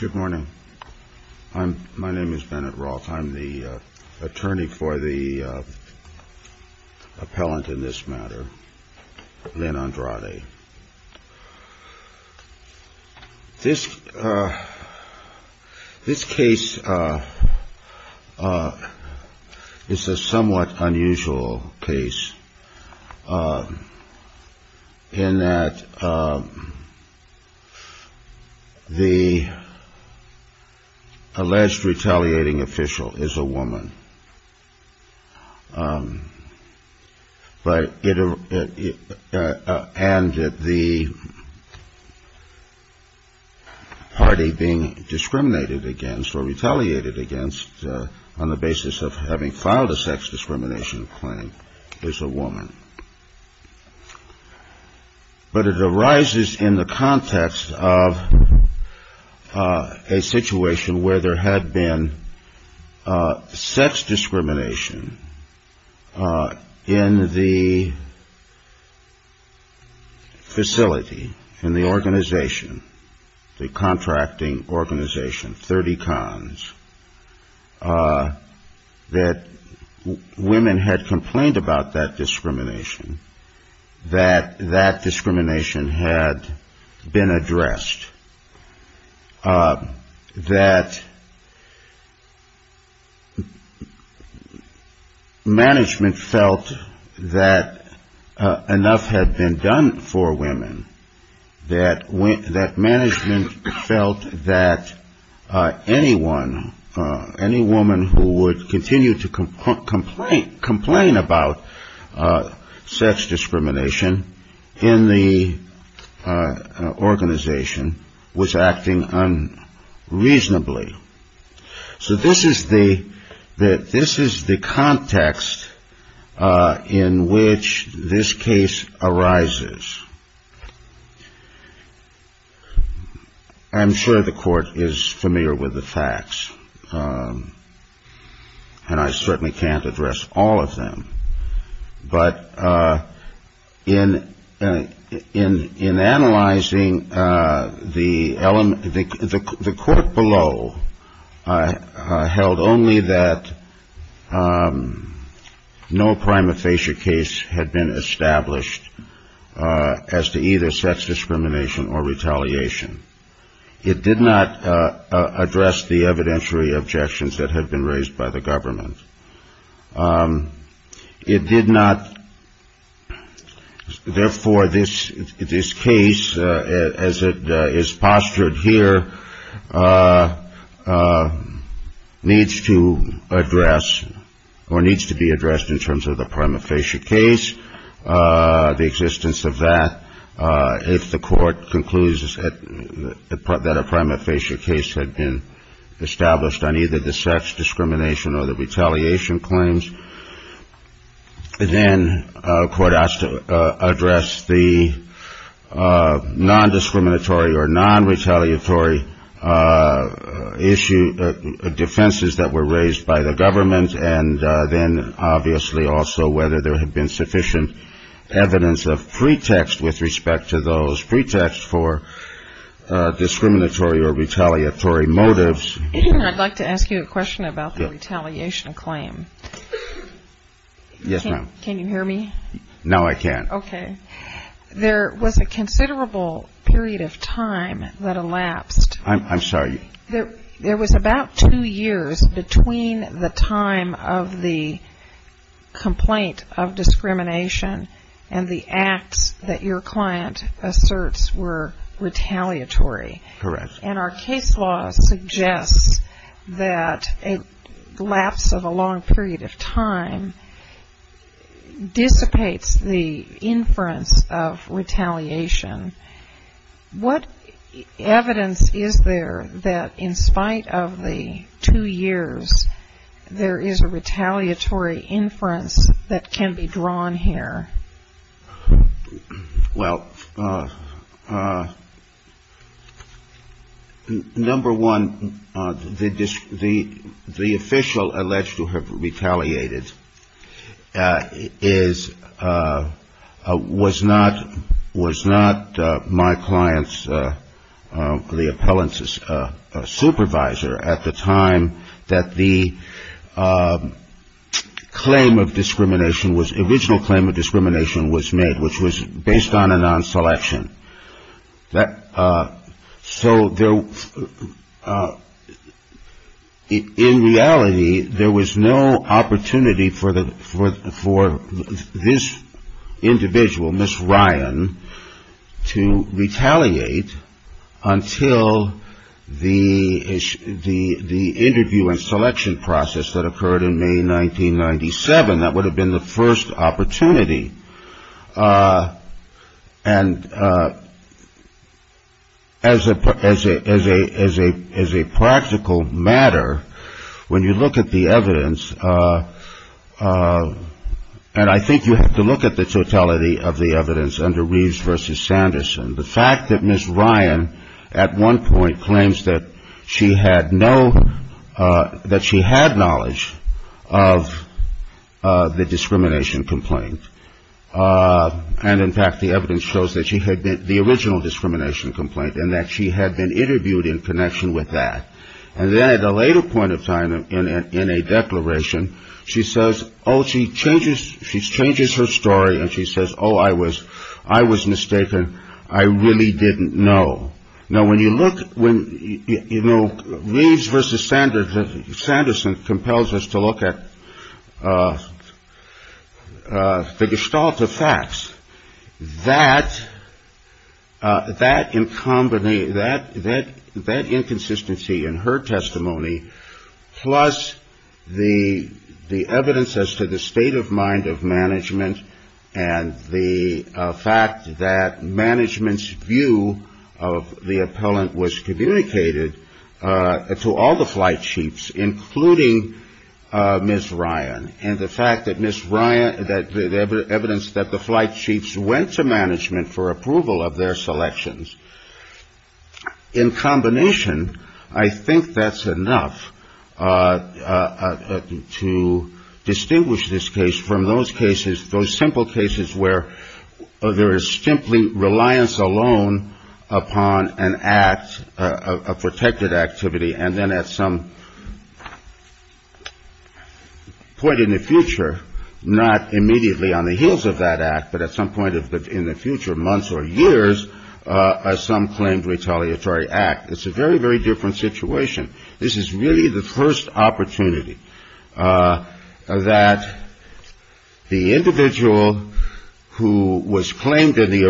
Good morning. My name is Bennett Roche. I'm the attorney for the appellant in this matter, Lynn Andrade. This case is a somewhat unusual case in that the alleged retaliating official is a woman. And the party being discriminated against or retaliated against on the basis of having filed a sex discrimination claim is a woman. But it arises in the context of a situation where there had been sex discrimination in the facility, in the organization, the contracting organization, 30 cons, that women had complained about that discrimination, that that discrimination had been addressed, that management felt that enough had been done for women, that management felt that anyone, any woman who would continue to complain about sex discrimination in the organization was acting unreasonably. So this is the context in which this case arises. I'm sure the court is familiar with the facts, and I certainly can't address all of them. But in analyzing the court below, I held only that no prima facie case had been established as to either sex discrimination or retaliation. It did not address the evidentiary objections that had been raised by the government. It did not. Therefore, this case, as it is postured here, needs to address or needs to be addressed in terms of the prima facie case, the existence of that. If the court concludes that a prima facie case had been established on either the sex discrimination or the retaliation claims, then a court has to address the non-discriminatory or non-retaliatory defenses that were raised by the government, and then obviously also whether there had been sufficient evidence of pretext with respect to those pretexts for discriminatory or retaliatory motives. I'd like to ask you a question about the retaliation claim. Yes, ma'am. Can you hear me? No, I can't. Okay. There was a considerable period of time that elapsed. I'm sorry. There was about two years between the time of the complaint of discrimination and the acts that your client asserts were retaliatory. Correct. And our case law suggests that a lapse of a long period of time dissipates the inference of retaliation. What evidence is there that in spite of the two years, there is a retaliatory inference that can be drawn here? Well, number one, the official alleged to have retaliated was not my client's, the appellant's supervisor at the time that the claim of discrimination was original claim of discrimination was made, which was based on a non-selection. So in reality, there was no opportunity for this individual, Miss Ryan, to retaliate until the interview and selection process that occurred in May 1997. That would have been the first opportunity. And as a practical matter, when you look at the evidence, and I think you have to look at the totality of the evidence under Reeves versus Sanderson, the fact that Miss Ryan at one point claims that she had no, that she had knowledge of the discrimination complaint, and in fact, the evidence shows that she had the original discrimination complaint and that she had been interviewed in connection with that. And then at a later point of time in a declaration, she says, oh, she changes, she changes her story. And she says, oh, I was I was mistaken. I really didn't know. Now, when you look when you know Reeves versus Sanders, Sanderson compels us to look at the gestalt of facts that that in combination, that inconsistency in her testimony, plus the evidence as to the state of mind of management and the fact that management's view of the appellant was communicated to all the flight chiefs, including Miss Ryan. And the fact that Miss Ryan that the evidence that the flight chiefs went to management for approval of their selections in combination, I think that's enough to distinguish this case from those cases, those simple cases where there is simply reliance alone upon an act of protected activity. And then at some point in the future, not immediately on the heels of that act, but at some point in the future, months or years, as some claimed retaliatory act, it's a very, very different situation. This is really the first opportunity that the individual who was claimed in the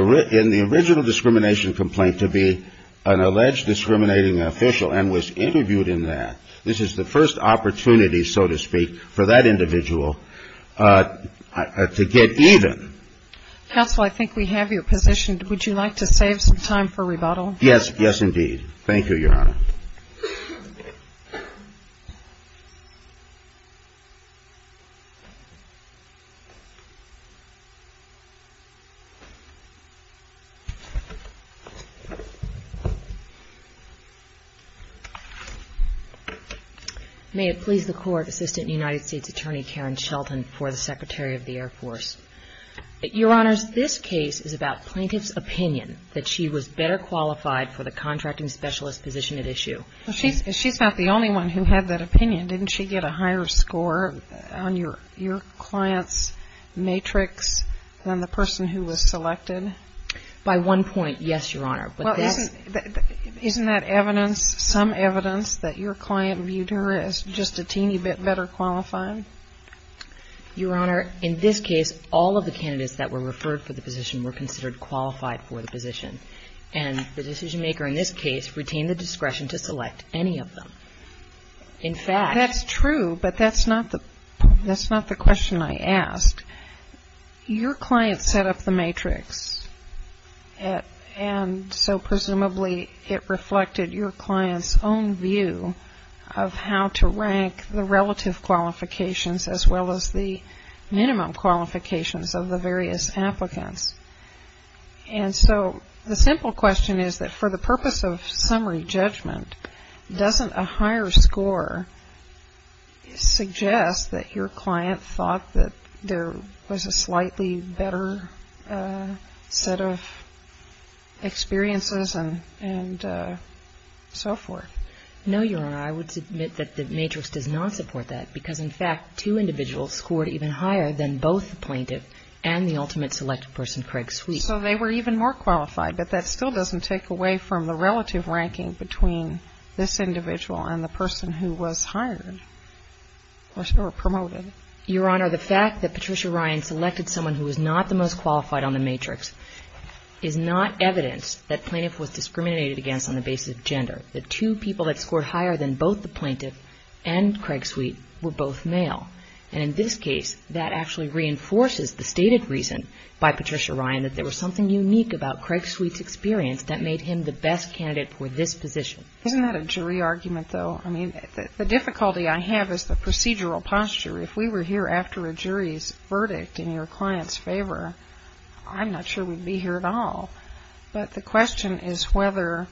original discrimination complaint to be an alleged discriminating official and was interviewed in that. This is the first opportunity, so to speak, for that individual to get even. Counsel, I think we have your position. Would you like to save some time for rebuttal? Yes. Yes, indeed. Thank you, Your Honor. May it please the Court, Assistant United States Attorney Karen Shelton for the Secretary of the Air Force. Your Honors, this case is about plaintiff's opinion that she was better qualified for the contracting specialist position at issue. She's not the only one who had that opinion. Didn't she get a higher score on your client's matrix than the person who was selected? By one point, yes, Your Honor. Isn't that evidence, some evidence that your client viewed her as just a teeny bit better qualified? Your Honor, in this case, all of the candidates that were referred for the position were considered qualified for the position. And the decision maker in this case retained the discretion to select any of them. In fact... That's true, but that's not the question I asked. Your client set up the matrix, and so presumably it reflected your client's own view of how to rank the relative qualifications as well as the The simple question is that for the purpose of summary judgment, doesn't a higher score suggest that your client thought that there was a slightly better set of experiences and so forth? No, Your Honor. I would submit that the matrix does not support that because, in fact, two individuals scored even higher than both the plaintiff and the ultimate selected person, Craig Sweet. So they were even more qualified, but that still doesn't take away from the relative ranking between this individual and the person who was hired or promoted. Your Honor, the fact that Patricia Ryan selected someone who was not the most qualified on the matrix is not evidence that plaintiff was discriminated against on the basis of gender. The two people that scored higher than both the plaintiff and Craig Sweet were both male. And in this case, that actually reinforces the stated reason by Patricia Ryan that there was something unique about Craig Sweet's experience that made him the best candidate for this position. Isn't that a jury argument, though? I mean, the difficulty I have is the procedural posture. If we were here after a jury's verdict in your client's favor, I'm not sure we'd be here at all. But the question is whether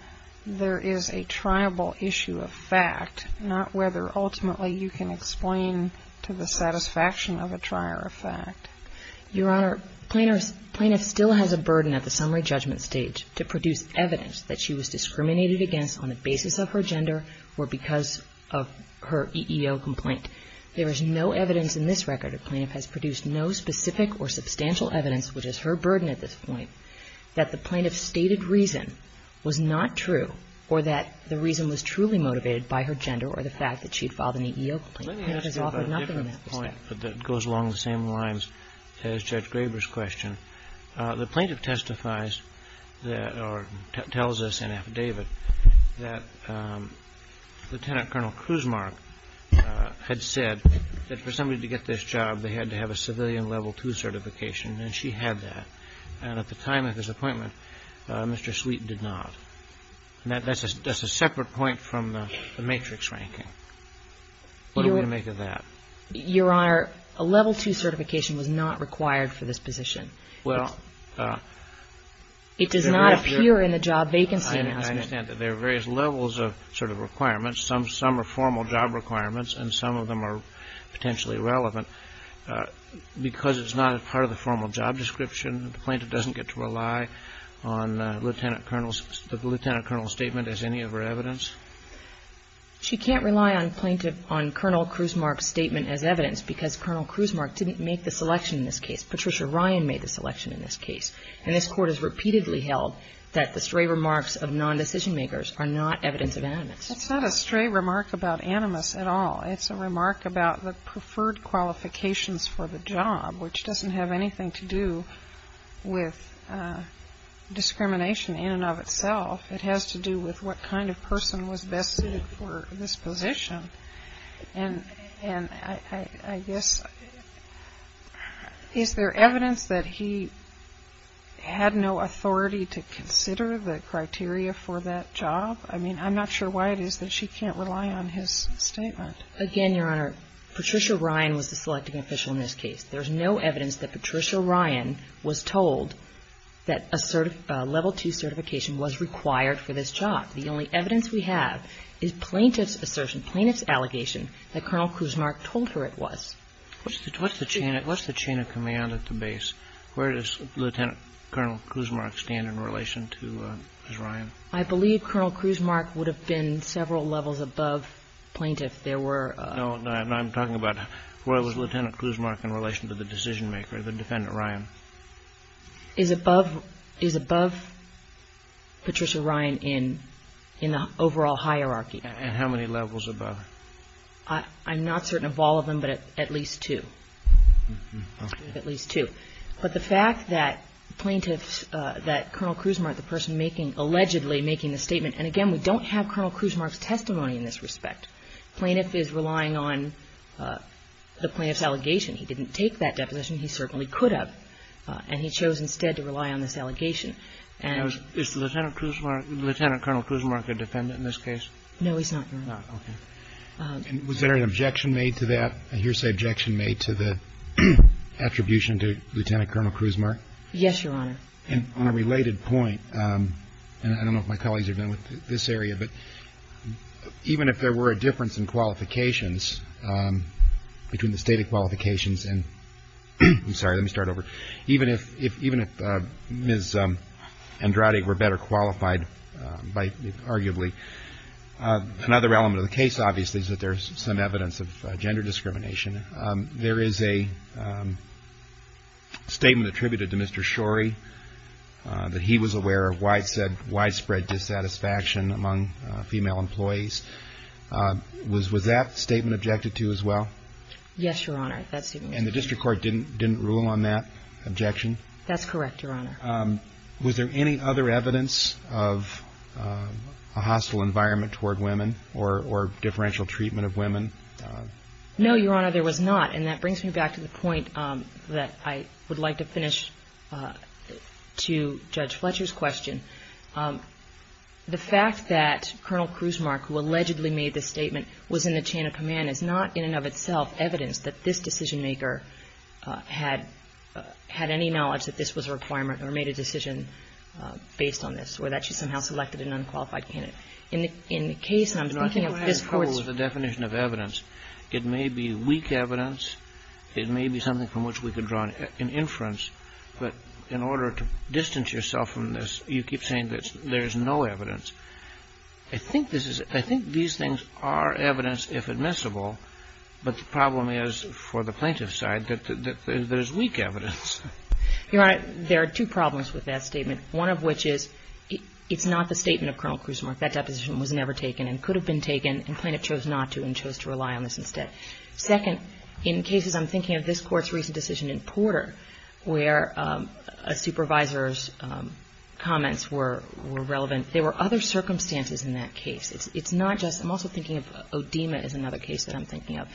there is a triable issue of fact, not whether ultimately you can explain to the satisfaction of a trier of fact. Your Honor, plaintiff still has a burden at the summary judgment stage to produce evidence that she was discriminated against on the basis of her gender or because of her EEO complaint. There is no evidence in this record, a plaintiff has produced no specific or substantial evidence, which is her burden at this point, that the plaintiff's stated reason was not true or that the reason was truly motivated by her gender or the fact that she had filed an EEO complaint. Let me ask you about a different point that goes along the same lines as Judge Graber's question. The plaintiff testifies that or tells us in affidavit that Lieutenant Colonel Kruzmark had said that for somebody to get this job, they had to have a civilian level II certification, and she had that. And at the time of his appointment, Mr. Sweet did not. That's a separate point from the matrix ranking. What do we make of that? Your Honor, a level II certification was not required for this position. Well, I understand that there are various levels of sort of requirements. Some are formal job requirements and some of them are potentially relevant because it's not a part of the formal job description. The plaintiff doesn't get to rely on Lieutenant Colonel's statement as any of her evidence? She can't rely on Colonel Kruzmark's statement as evidence because Colonel Kruzmark didn't make the selection in this case. Patricia Ryan made the selection in this case. And this Court has repeatedly held that the stray remarks of nondecision-makers are not evidence of animus. It's not a stray remark about animus at all. It's a remark about the preferred qualifications for the job, which doesn't have anything to do with discrimination in and of itself. It has to do with what kind of person was best suited for this position. And I guess is there evidence that he had no authority to consider the criteria for that job? I mean, I'm not sure why it is that she can't rely on his statement. Again, Your Honor, Patricia Ryan was the selecting official in this case. There's no evidence that Patricia Ryan was told that a level II certification was required for this job. The only evidence we have is plaintiff's assertion, plaintiff's allegation that Colonel Kruzmark told her it was. What's the chain of command at the base? Where does Lieutenant Colonel Kruzmark stand in relation to Ms. Ryan? I believe Colonel Kruzmark would have been several levels above plaintiff. There were. No, I'm talking about where was Lieutenant Kruzmark in relation to the decision-maker, the defendant Ryan? Is above Patricia Ryan in the overall hierarchy. And how many levels above? I'm not certain of all of them, but at least two. At least two. But the fact that plaintiff's, that Colonel Kruzmark, the person making, allegedly making the statement, and again, we don't have Colonel Kruzmark's testimony in this respect, plaintiff is relying on the plaintiff's allegation. He didn't take that deposition. He certainly could have. And he chose instead to rely on this allegation. Is Lieutenant Kruzmark, Lieutenant Colonel Kruzmark a defendant in this case? No, he's not, Your Honor. Not, okay. Was there an objection made to that? I hear you say objection made to the attribution to Lieutenant Colonel Kruzmark? Yes, Your Honor. And on a related point, and I don't know if my colleagues are done with this area, but even if there were a difference in qualifications, between the stated qualifications and, I'm sorry, let me start over. Even if Ms. Andrade were better qualified by, arguably, another element of the case, obviously, is that there's some evidence of gender discrimination. There is a statement attributed to Mr. Shorey that he was aware of widespread dissatisfaction among female employees. Was that statement objected to as well? Yes, Your Honor. And the district court didn't rule on that objection? That's correct, Your Honor. Was there any other evidence of a hostile environment toward women or differential treatment of women? No, Your Honor, there was not. And that brings me back to the point that I would like to finish to Judge Fletcher's question. The fact that Colonel Kruzmark, who allegedly made this statement, was in the chain of command is not, in and of itself, evidence that this decisionmaker had any knowledge that this was a requirement or made a decision based on this, or that she somehow selected an unqualified candidate. In the case, and I'm thinking of this Court's ---- No, I think what I have in trouble is the definition of evidence. It may be weak evidence. It may be something from which we could draw an inference. But in order to distance yourself from this, you keep saying that there's no evidence. I think this is ---- I think these things are evidence, if admissible, but the problem is, for the plaintiff's side, that there's weak evidence. Your Honor, there are two problems with that statement, one of which is it's not the statement of Colonel Kruzmark. That deposition was never taken and could have been taken, and plaintiff chose not to and chose to rely on this instead. Second, in cases, I'm thinking of this Court's recent decision in Porter, where a supervisor's comments were relevant. There were other circumstances in that case. It's not just ---- I'm also thinking of Odema is another case that I'm thinking of,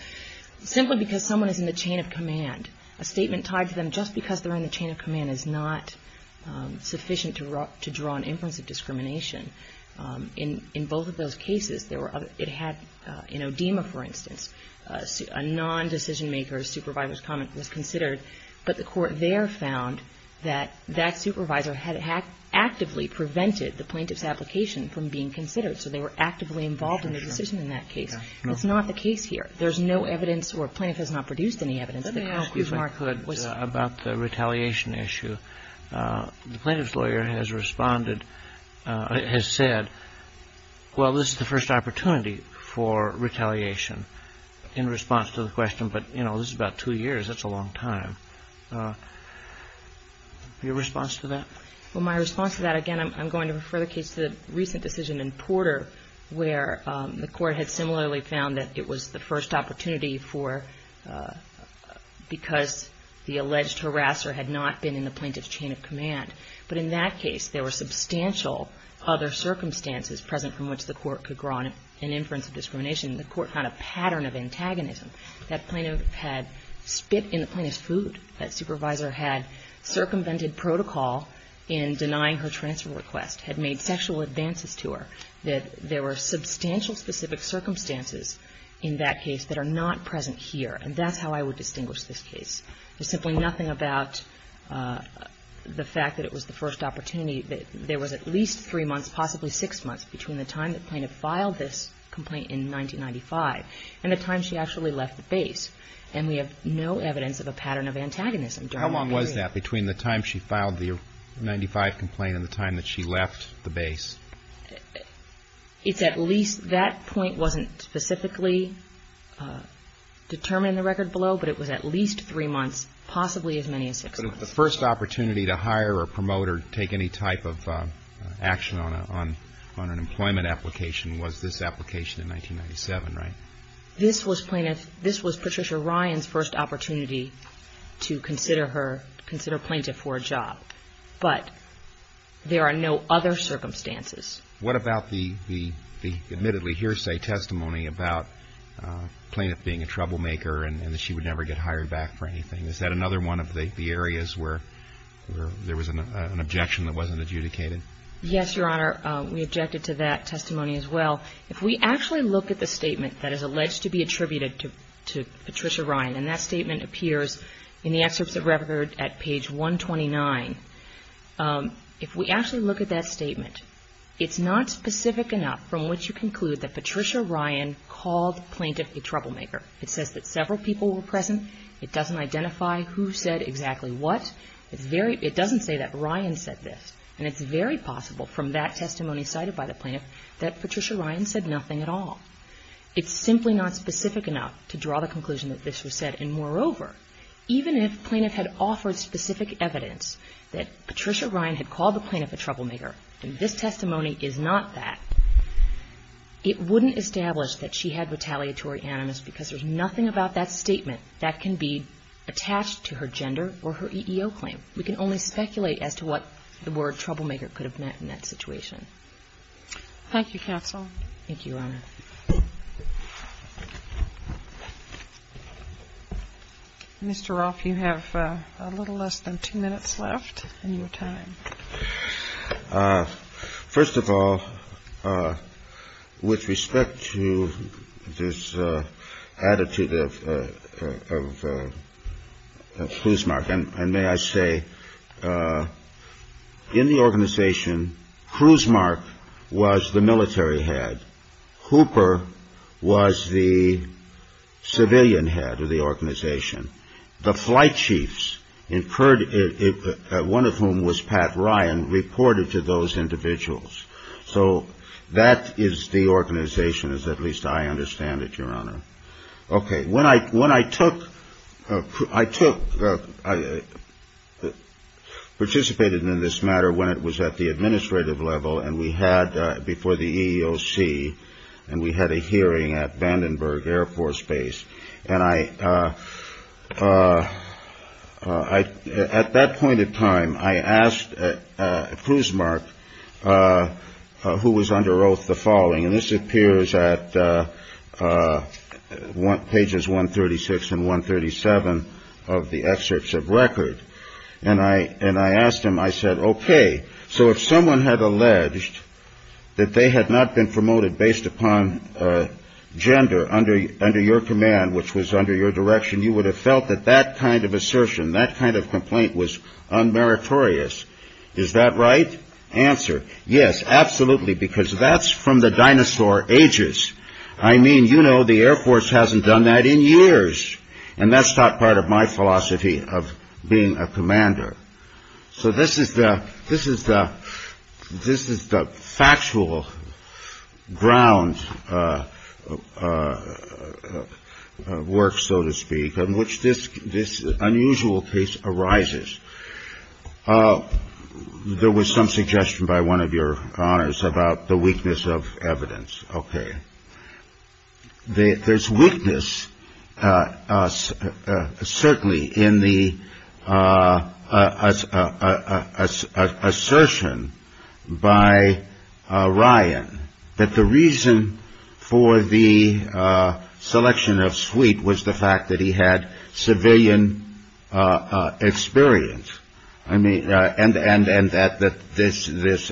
simply because someone is in the chain of command. A statement tied to them just because they're in the chain of command is not sufficient to draw an inference of discrimination. In both of those cases, there were other ---- it had, in Odema, for instance, a nondecision maker's supervisor's comment was considered, but the Court there found that that supervisor had actively prevented the plaintiff's application from being considered. So they were actively involved in the decision in that case. It's not the case here. There's no evidence or plaintiff has not produced any evidence that Concruzmark Kennedy. Excuse me. About the retaliation issue, the plaintiff's lawyer has responded, has said, well, this is the first opportunity for retaliation in response to the question, but, you know, this is about two years. That's a long time. Your response to that? Well, my response to that, again, I'm going to refer the case to the recent decision in Porter where the Court had similarly found that it was the first opportunity for ---- because the alleged harasser had not been in the plaintiff's chain of command. But in that case, there were substantial other circumstances present from which the Court could draw an inference of discrimination. The Court found a pattern of antagonism. That plaintiff had spit in the plaintiff's food. That supervisor had circumvented protocol in denying her transfer request, had made sexual advances to her, that there were substantial specific circumstances in that case that are not present here. And that's how I would distinguish this case. There's simply nothing about the fact that it was the first opportunity, that there was at least three months, possibly six months between the time the plaintiff filed this complaint in 1995 and the time she actually left the base. And we have no evidence of a pattern of antagonism during that period. So you're saying that between the time she filed the 1995 complaint and the time that she left the base? It's at least ---- that point wasn't specifically determined in the record below, but it was at least three months, possibly as many as six months. But the first opportunity to hire or promote or take any type of action on an employment application was this application in 1997, right? This was Patricia Ryan's first opportunity to consider her, consider a plaintiff for a job. But there are no other circumstances. What about the admittedly hearsay testimony about the plaintiff being a troublemaker and that she would never get hired back for anything? Is that another one of the areas where there was an objection that wasn't adjudicated? Yes, Your Honor. We objected to that testimony as well. If we actually look at the statement that is alleged to be attributed to Patricia Ryan, and that statement appears in the excerpts of Revered at page 129, if we actually look at that statement, it's not specific enough from which you conclude that Patricia Ryan called the plaintiff a troublemaker. It says that several people were present. It doesn't identify who said exactly what. It's very ---- it doesn't say that Ryan said this. And it's very possible from that testimony cited by the plaintiff that Patricia Ryan said nothing at all. It's simply not specific enough to draw the conclusion that this was said. And moreover, even if the plaintiff had offered specific evidence that Patricia Ryan had called the plaintiff a troublemaker, and this testimony is not that, it wouldn't establish that she had retaliatory animus because there's nothing about that statement that can be attached to her gender or her EEO claim. We can only speculate as to what the word troublemaker could have meant in that situation. Thank you, counsel. Thank you, Your Honor. Mr. Roth, you have a little less than two minutes left in your time. First of all, with respect to this attitude of Kruzmark, and may I say, in the organization, Kruzmark was the military head. Hooper was the civilian head of the organization. The flight chiefs, one of whom was Pat Ryan, reported to those individuals. So that is the organization, as at least I understand it, Your Honor. Okay. When I took – I took – I participated in this matter when it was at the administrative level, and we had – before the EEOC, and we had a hearing at Vandenberg Air Force Base. And I – at that point in time, I asked Kruzmark, who was under oath, the following. And this appears at pages 136 and 137 of the excerpts of record. And I – and I asked him, I said, okay, so if someone had alleged that they had not been promoted based upon gender under your command, which was under your direction, you would have felt that that kind of assertion, that kind of complaint was unmeritorious. Is that right? Answer. Yes, absolutely, because that's from the dinosaur ages. I mean, you know, the Air Force hasn't done that in years. And that's not part of my philosophy of being a commander. So this is the – this is the – this is the factual ground work, so to speak, on which this – this unusual case arises. There was some suggestion by one of your honors about the weakness of evidence. Okay. There's weakness, certainly, in the assertion by Ryan that the reason for the selection of Sweet was the fact that he had civilian experience. I mean, and that this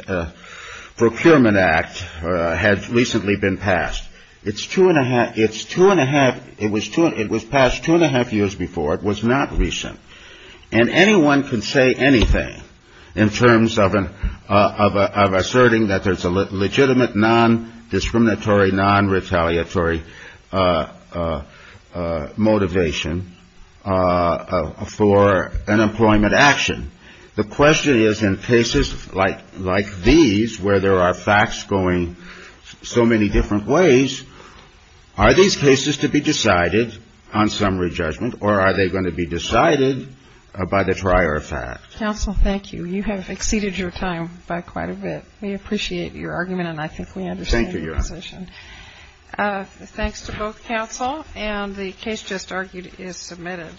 Procurement Act had recently been passed. It's two and a half – it's two and a half – it was two – it was passed two and a half years before. It was not recent. And anyone can say anything in terms of an – of asserting that there's a legitimate, non-discriminatory, non-retaliatory motivation for an employment action. The question is, in cases like – like these, where there are facts going so many different ways, are these cases to be decided on summary judgment, or are they going to be decided by the prior fact? Counsel, thank you. You have exceeded your time by quite a bit. We appreciate your argument, and I think we understand your position. Thank you, Your Honor. Thanks to both counsel. And the case just argued is submitted.